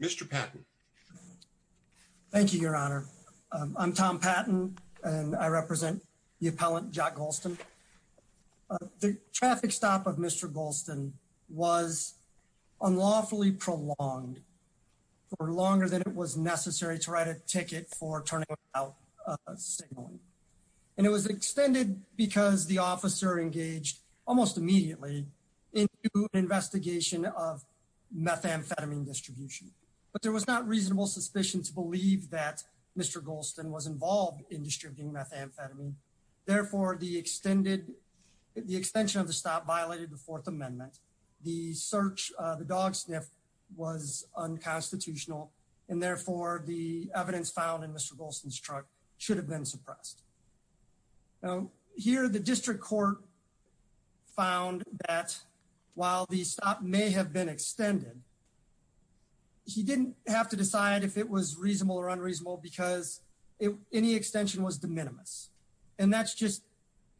Mr Patton. Thank you, Your Honor. I'm Tom Patton, and I represent the appellant Jacques Gholston. The traffic stop of Mr Gholston was unlawfully prolonged for longer than it was necessary to write a ticket for turning out a signal. And it was extended because the officer engaged almost immediately into an investigation of methamphetamine distribution. But there was not reasonable suspicion to believe that Mr Gholston was involved in distributing methamphetamine. Therefore, the extension of the stop violated the Fourth Amendment. The search, the dog sniff, was unconstitutional, and therefore the evidence found in Mr Gholston's truck should have been found that while the stop may have been extended, he didn't have to decide if it was reasonable or unreasonable because any extension was de minimis. And that's just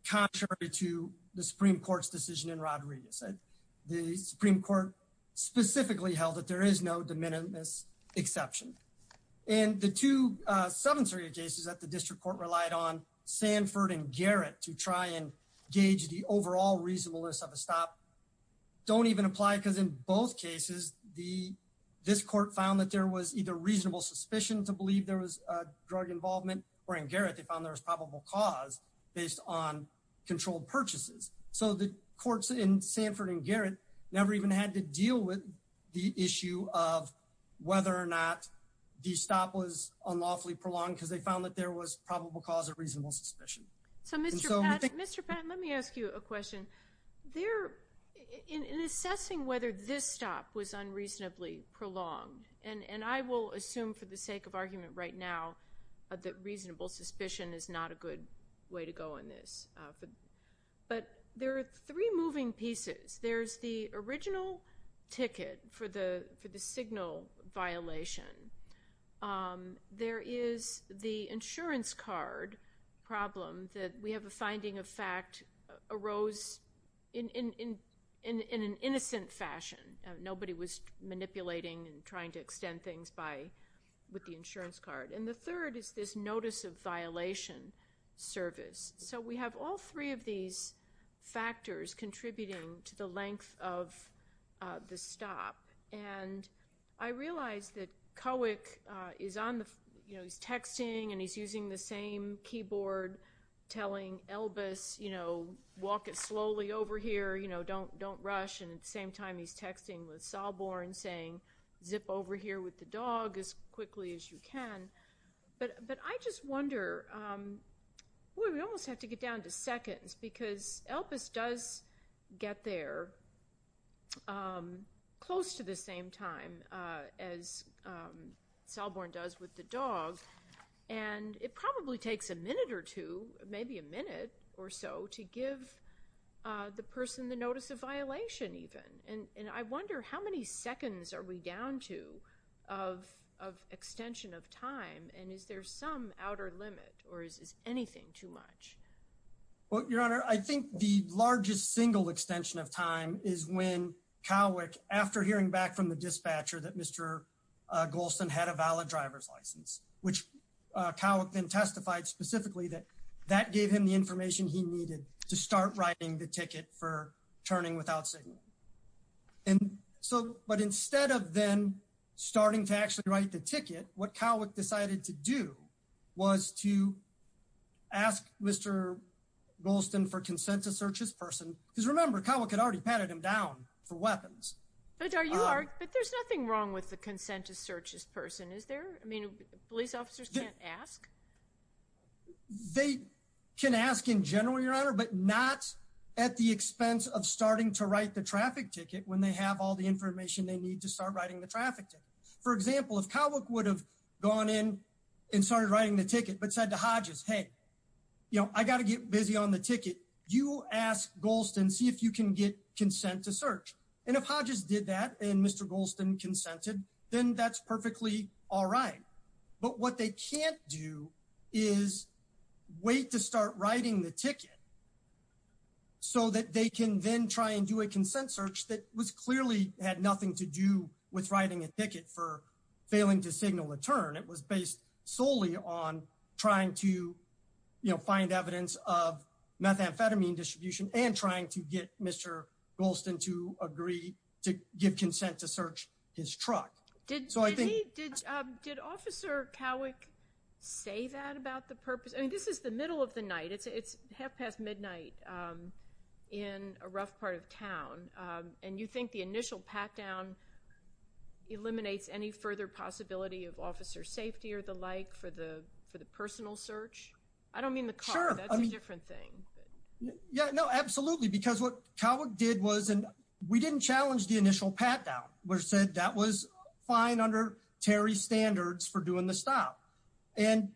contrary to the Supreme Court's decision in Rodriguez. The Supreme Court specifically held that there is no de minimis exception. And the two, uh, Seventh Circuit cases that the District Court relied on, Sanford and Garrett, for the overall reasonableness of a stop, don't even apply because in both cases, this court found that there was either reasonable suspicion to believe there was a drug involvement, or in Garrett, they found there was probable cause based on controlled purchases. So the courts in Sanford and Garrett never even had to deal with the issue of whether or not the stop was unlawfully prolonged because they found that there was probable cause of reasonable suspicion. So Mr. Patton, let me ask you a question. In assessing whether this stop was unreasonably prolonged, and I will assume for the sake of argument right now that reasonable suspicion is not a good way to go in this, but there are three moving pieces. There's the original ticket for the signal violation. There is the insurance card problem that we have a finding of fact arose in an innocent fashion. Nobody was manipulating and trying to extend things with the insurance card. And the third is this notice of violation service. So we have all three these factors contributing to the length of the stop. And I realize that Cowick is on the, you know, he's texting and he's using the same keyboard telling Elvis, you know, walk it slowly over here, you know, don't rush. And at the same time, he's texting with Sahlborn saying, zip over here with the dog as quickly as you can. But I just wonder, well, we almost have to get down to seconds because Elvis does get there close to the same time as Sahlborn does with the dog. And it probably takes a minute or two, maybe a minute or so to give the person the notice of violation even. And I wonder how many seconds are we down to of extension of time? And is there some outer limit or is anything too much? Well, Your Honor, I think the largest single extension of time is when Cowick, after hearing back from the dispatcher that Mr. Golston had a valid driver's license, which Cowick then testified specifically that that gave him the information he needed to start writing the ticket for turning without signal. But instead of then starting to actually write the ticket, what Cowick decided to do was to ask Mr. Golston for consent to search his person. Because remember, Cowick had already patted him down for weapons. But there's nothing wrong with the consent to search his person, is there? I mean, police officers can't ask? They can ask in general, Your Honor, but not at the expense of starting to write the traffic ticket when they have all the information they need to start writing the traffic ticket. For example, if Cowick would have gone in and started writing the ticket but said to Hodges, hey, you know, I got to get busy on the ticket. You ask Golston, see if you can get consent to search. And if Hodges did that and Mr. Golston consented, then that's perfectly all right. But what they can't do is wait to start writing the ticket. So that they can then try and do a consent search that was clearly had nothing to do with writing a ticket for failing to signal a turn. It was based solely on trying to, you know, find evidence of methamphetamine distribution and trying to get Mr. Golston to agree to give consent to search his truck. So I think... Did Officer Cowick say that about the purpose? I mean, this is the middle of the night. It's half past midnight in a rough part of town. And you think the initial pat down eliminates any further possibility of officer safety or the like for the personal search? I don't mean the car. That's a different thing. Yeah, no, absolutely. Because what Cowick did was, and we didn't challenge the initial pat down. We said that was fine under Terry standards for doing the stop. And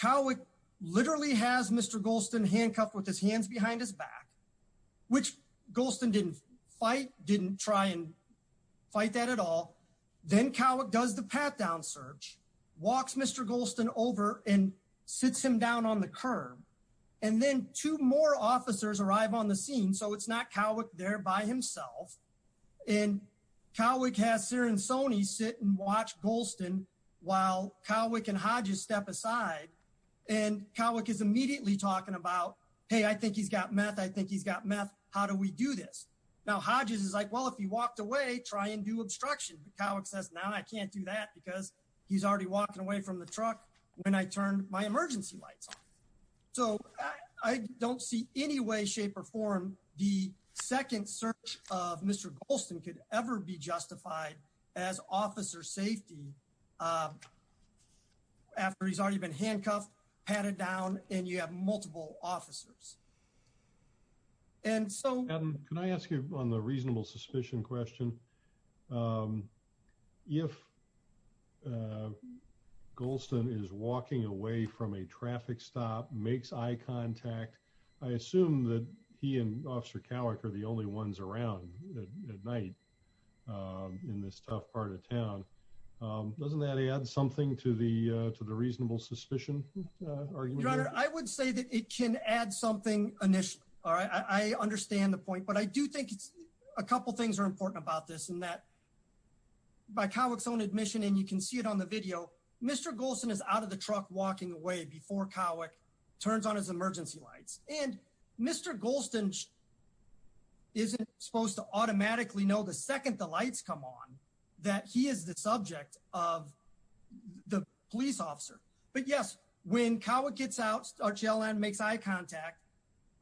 Cowick literally has Mr. Golston handcuffed with his hands behind his back, which Golston didn't fight, didn't try and fight that at all. Then Cowick does the pat down search, walks Mr. Golston over and sits him down on the curb. And then two more officers arrive on the scene. So it's not Cowick there by himself. And Cowick has Sir and Sonny sit and watch Golston while Cowick and Hodges step aside. And Cowick is immediately talking about, hey, I think he's got meth. I think he's got meth. How do we do this? Now Hodges is like, well, if he walked away, try and do obstruction. Cowick says, no, I can't do that because he's already walking away from the truck when I turned my ever be justified as officer safety after he's already been handcuffed, patted down, and you have multiple officers. And so... Adam, can I ask you on the reasonable suspicion question? If Golston is walking away from a traffic stop, makes eye contact, I assume that he and Officer Cowick are the only ones around at night in this tough part of town. Doesn't that add something to the reasonable suspicion? Your Honor, I would say that it can add something initially. I understand the point, but I do think a couple of things are important about this and that by Cowick's own admission, and you can see it on the video, Mr. Golston is out of the truck walking away before Cowick turns on his emergency lights. And Mr. Golston isn't supposed to automatically know the second the lights come on that he is the subject of the police officer. But yes, when Cowick gets out, our jail and makes eye contact.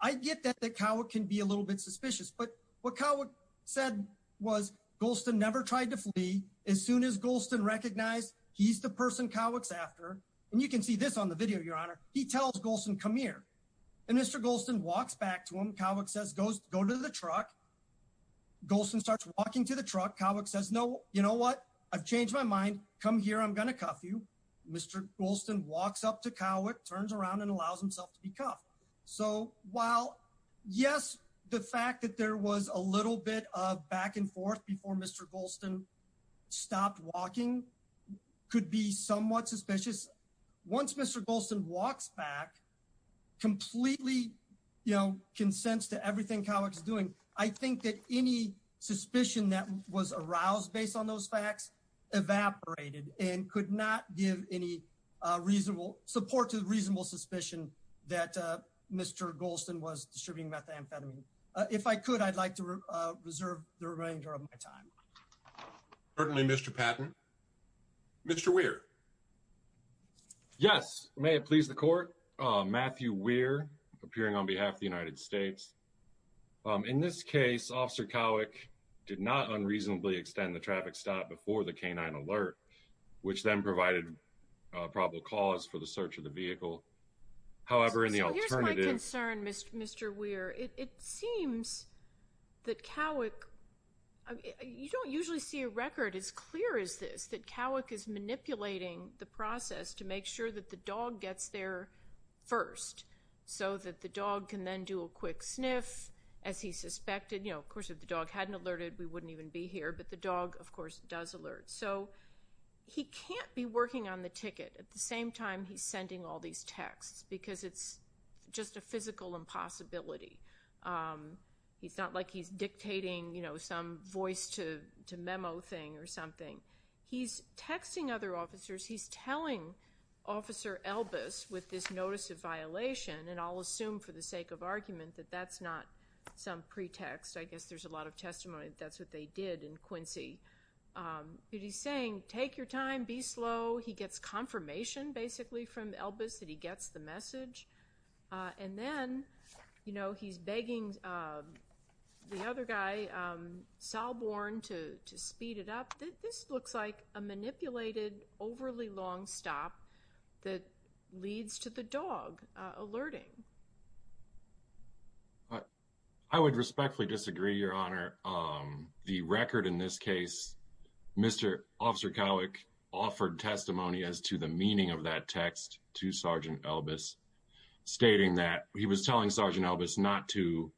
I get that Cowick can be a little bit suspicious, but what Cowick said was Golston never tried to flee. As soon as Golston recognized he's the person Cowick's And you can see this on the video, Your Honor. He tells Golston, come here. And Mr. Golston walks back to him. Cowick says, go to the truck. Golston starts walking to the truck. Cowick says, no, you know what? I've changed my mind. Come here, I'm going to cuff you. Mr. Golston walks up to Cowick, turns around and allows himself to be cuffed. So while yes, the fact that there was a little bit of back and forth before Mr. Golston stopped walking could be somewhat suspicious. Once Mr. Golston walks back completely, you know, consents to everything Cowick's doing. I think that any suspicion that was aroused based on those facts evaporated and could not give any reasonable support to the reasonable suspicion that Mr. Golston was distributing methamphetamine. If I could, I'd like to reserve the remainder of my time. Certainly, Mr. Patton. Mr. Weir. Yes. May it please the court. Matthew Weir, appearing on behalf of the United States. In this case, Officer Cowick did not unreasonably extend the traffic stop before the canine alert, which then provided a probable cause for the search of the vehicle. However, in the alternative... Here's my concern, Mr. Weir. It seems that Cowick... You don't usually see a record as clear as this, that Cowick is manipulating the process to make sure that the dog gets there first so that the dog can then do a quick sniff as he suspected. Of course, if the dog hadn't alerted, we wouldn't even be here. But the dog, of course, does alert. So he can't be working on the ticket at the same time he's sending all these texts, because it's just a physical impossibility. He's not like he's dictating some voice to memo thing or something. He's texting other officers. He's telling Officer Elbis with this notice of violation, and I'll assume for the sake of argument that that's not some pretext. I guess there's a lot of testimony that that's what they did in Quincy. But he's saying, take your time, be slow. He gets confirmation basically from Elbis that he gets the message. And then he's begging the other guy, Salborn, to speed it up. This looks like a manipulated, overly long stop that leads to the dog alerting. I would respectfully disagree, Your Honor. The record in this case, Mr. Officer Cowick offered testimony as to the meaning of that text to Sergeant Elbis, stating that he was telling Sergeant Elbis not to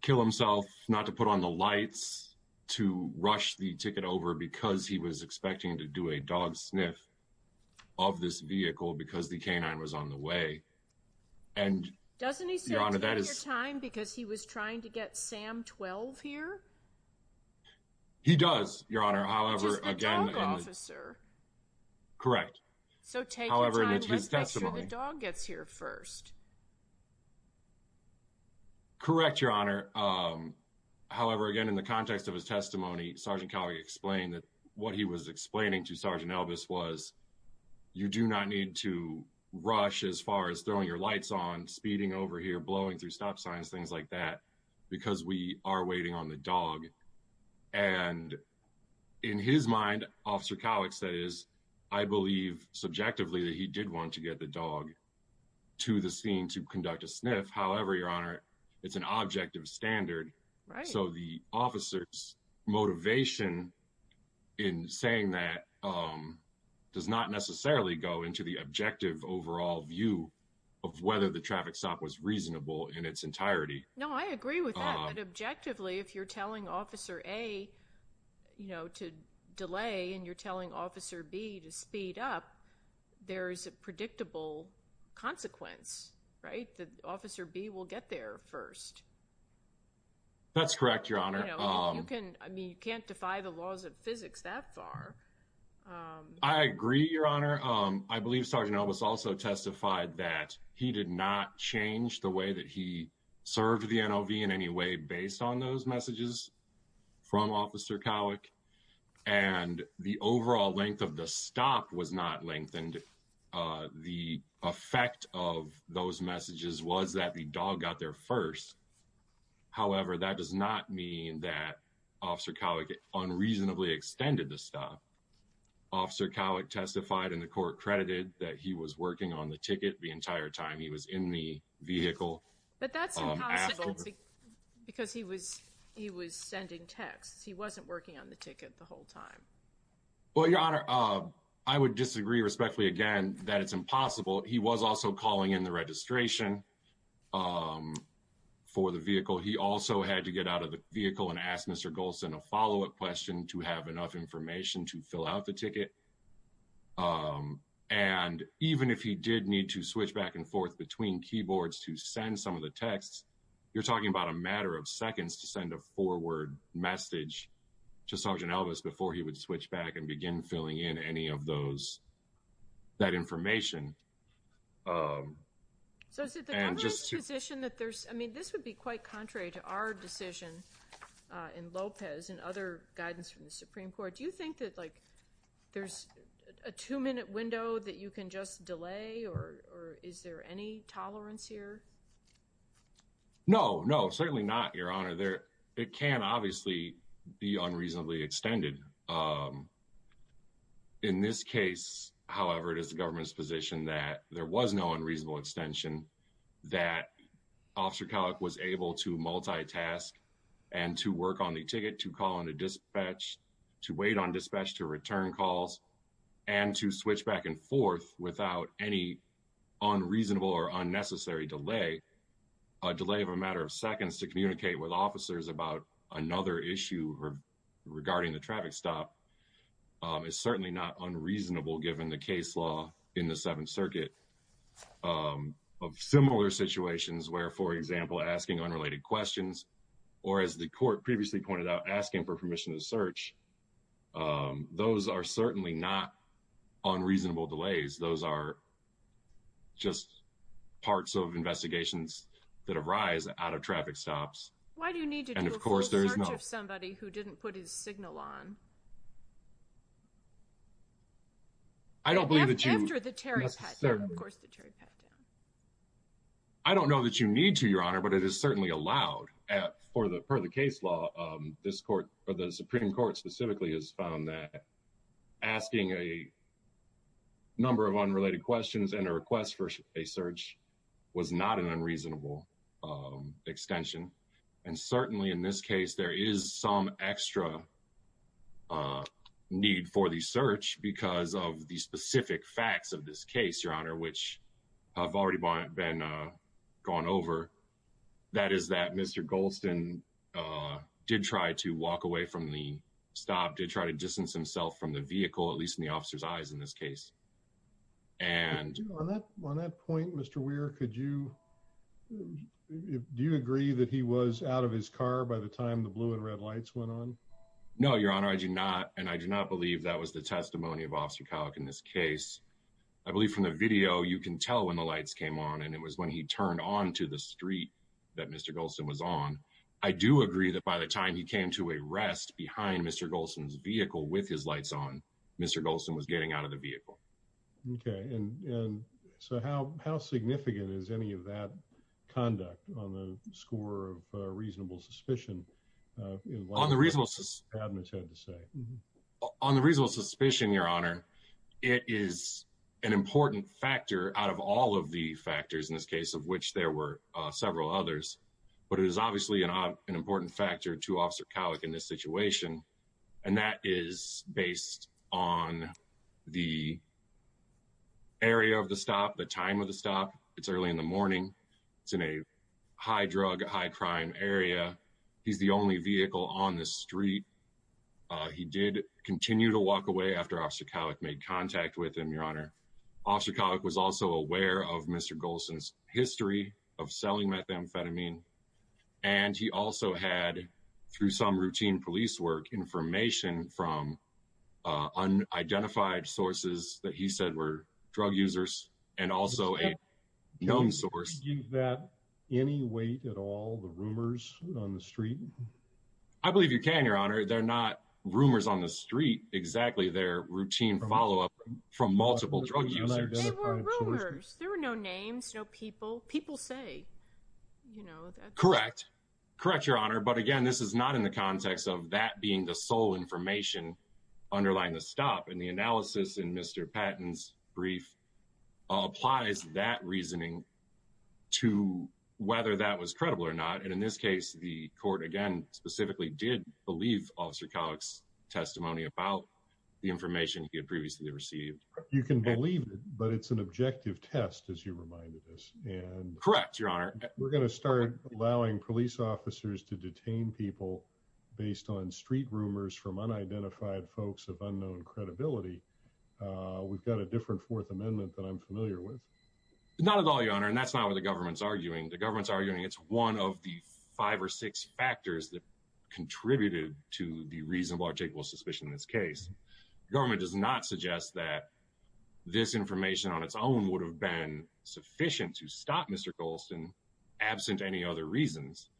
kill himself, not to put on the lights, to rush the ticket over because he was expecting to do a dog sniff of this vehicle because the canine was on the way. Doesn't he say, take your time, because he was trying to get Sam 12 here? He does, Your Honor. Just the dog officer. Correct. So take your time, let's make sure the dog gets here first. Correct, Your Honor. However, again, in the context of his testimony, Sergeant Cowick explained that what he was explaining to Sergeant Elbis was, you do not need to rush as far as throwing your lights on, speeding over here, blowing through stop signs, things like that, because we are waiting on the dog. And in his mind, Officer Cowick says, I believe subjectively that he did want to get the dog to the scene to conduct a sniff. However, Your Honor, it's an objective standard. So the officer's motivation in saying that does not necessarily go into the objective overall view of whether the traffic stop was in its entirety. No, I agree with that. Objectively, if you're telling Officer A to delay and you're telling Officer B to speed up, there is a predictable consequence, right? That Officer B will get there first. That's correct, Your Honor. You can't defy the laws of physics that far. I agree, Your Honor. I believe Sergeant Elbis also testified that he did not change the way that he served the NLV in any way based on those messages from Officer Cowick. And the overall length of the stop was not lengthened. The effect of those messages was that the dog got there first. However, that does not mean that Officer Cowick unreasonably extended the stop. Officer Cowick testified in the court credited that he was working on the ticket the entire time he was in the vehicle. But that's impossible because he was sending texts. He wasn't working on the ticket the whole time. Well, Your Honor, I would disagree respectfully again that it's impossible. He was also calling in the registration for the vehicle. He also had to get out of the vehicle and ask Mr. Golson a question. Even if he did need to switch back and forth between keyboards to send some of the texts, you're talking about a matter of seconds to send a forward message to Sergeant Elbis before he would switch back and begin filling in any of that information. This would be quite contrary to our decision in Lopez and other guidance from the Supreme Court. Do you think that there's a two just delay or is there any tolerance here? No, no, certainly not, Your Honor. It can obviously be unreasonably extended. In this case, however, it is the government's position that there was no unreasonable extension that Officer Cowick was able to multitask and to work on the ticket, to call in a dispatch, to wait on dispatch to return calls, and to switch back and forth without any unreasonable or unnecessary delay. A delay of a matter of seconds to communicate with officers about another issue regarding the traffic stop is certainly not unreasonable given the case law in the Seventh Circuit of similar situations where, for example, asking unrelated questions or, as the court previously pointed out, asking for permission to search, those are certainly not unreasonable delays. Those are just parts of investigations that arise out of traffic stops. Why do you need to do a full search of somebody who didn't put his signal on? I don't believe that you... After the Terry pat-down, of course, the Terry pat-down. I don't know that you need to, Your Honor, but it is certainly allowed per the case law. The Supreme Court specifically has found that asking a number of unrelated questions and a request for a search was not an unreasonable extension. And certainly in this case, there is some extra need for the search because of the specific facts of this case, Your Honor, which have already been gone over. That is that Mr. Golston did try to walk away from the stop, did try to distance himself from the vehicle, at least in the officer's eyes in this case. And... On that point, Mr. Weir, could you... Do you agree that he was out of his car by the time the blue and red lights went on? No, Your Honor, I do not. And I do not believe that was the when the lights came on, and it was when he turned onto the street that Mr. Golston was on. I do agree that by the time he came to a rest behind Mr. Golston's vehicle with his lights on, Mr. Golston was getting out of the vehicle. Okay. And so how significant is any of that conduct on the score of reasonable suspicion? On the reasonable... On the reasonable suspicion, Your Honor, it is an important factor out of all of the factors in this case of which there were several others. But it is obviously an important factor to Officer Kowik in this situation. And that is based on the area of the stop, the time of the stop. It's early in the morning. It's in a high drug, high crime area. He's the only vehicle on the street. He did continue to walk away after Officer Kowik made contact with him, Your Honor. Officer Kowik was also aware of Mr. Golston's history of selling methamphetamine. And he also had, through some routine police work, information from unidentified sources that he said were drug users and also a known source. Can you give that any weight at all, the rumors on the street? I believe you can, Your Honor. They're not rumors on the street. Exactly. They're routine follow-up from multiple drug users. They were rumors. There were no names, no people. People say, you know... Correct. Correct, Your Honor. But again, this is not in the context of that being the sole information underlying the stop. And the analysis in Mr. Patton's brief applies that specifically did believe Officer Kowik's testimony about the information he had previously received. You can believe it, but it's an objective test, as you reminded us. Correct, Your Honor. We're going to start allowing police officers to detain people based on street rumors from unidentified folks of unknown credibility. We've got a different Fourth Amendment that I'm familiar with. Not at all, Your Honor. And that's not what the government's arguing. The government's arguing it's one of the five or six factors that contributed to the reasonable or takeable suspicion in this case. The government does not suggest that this information on its own would have been sufficient to stop Mr. Golston, absent any other reasons.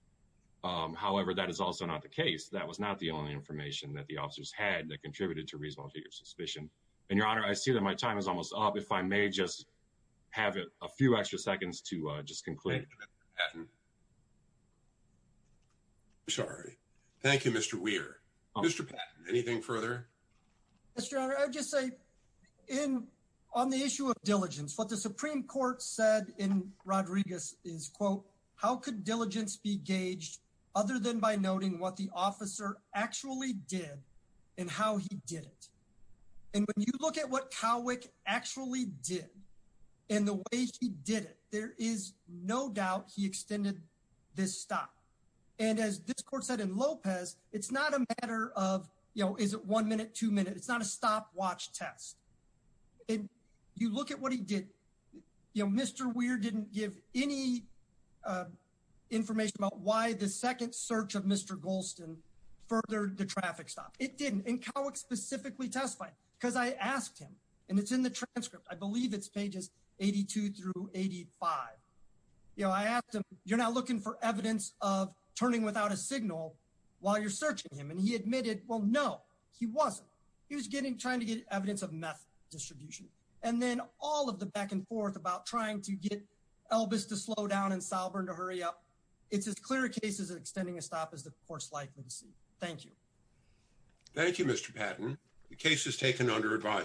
However, that is also not the case. That was not the only information that the officers had that contributed to reasonable or takeable suspicion. And Your Honor, I see that my time is almost up. If I may just have a few extra seconds to just conclude. Mr. Patton. I'm sorry. Thank you, Mr. Weir. Mr. Patton, anything further? Mr. Your Honor, I would just say on the issue of diligence, what the Supreme Court said in Rodriguez is, quote, how could diligence be gauged other than by noting what the officer actually did and how he did it? And when you look at what Kowik actually did and the way he did it, there is no doubt he extended this stop. And as this court said in Lopez, it's not a matter of, you know, is it one minute, two minutes? It's not a stopwatch test. And you look at what he did. You know, Mr. Weir didn't give any information about why the second search of Mr. Golston furthered the traffic stop. It didn't. And Kowik specifically testified, because I asked him, and it's in the transcript. I believe it's pages 82 through 85. You know, I asked him, you're not looking for evidence of turning without a signal while you're searching him. And he admitted, well, no, he wasn't. He was getting, trying to get evidence of meth distribution. And then all of the back and forth about trying to get Elvis to slow down and Salbern to hurry up. It's as clear a case as extending a stop as the court's likely to see. Thank you. Thank you, Mr. Patton. The case is taken under advisory.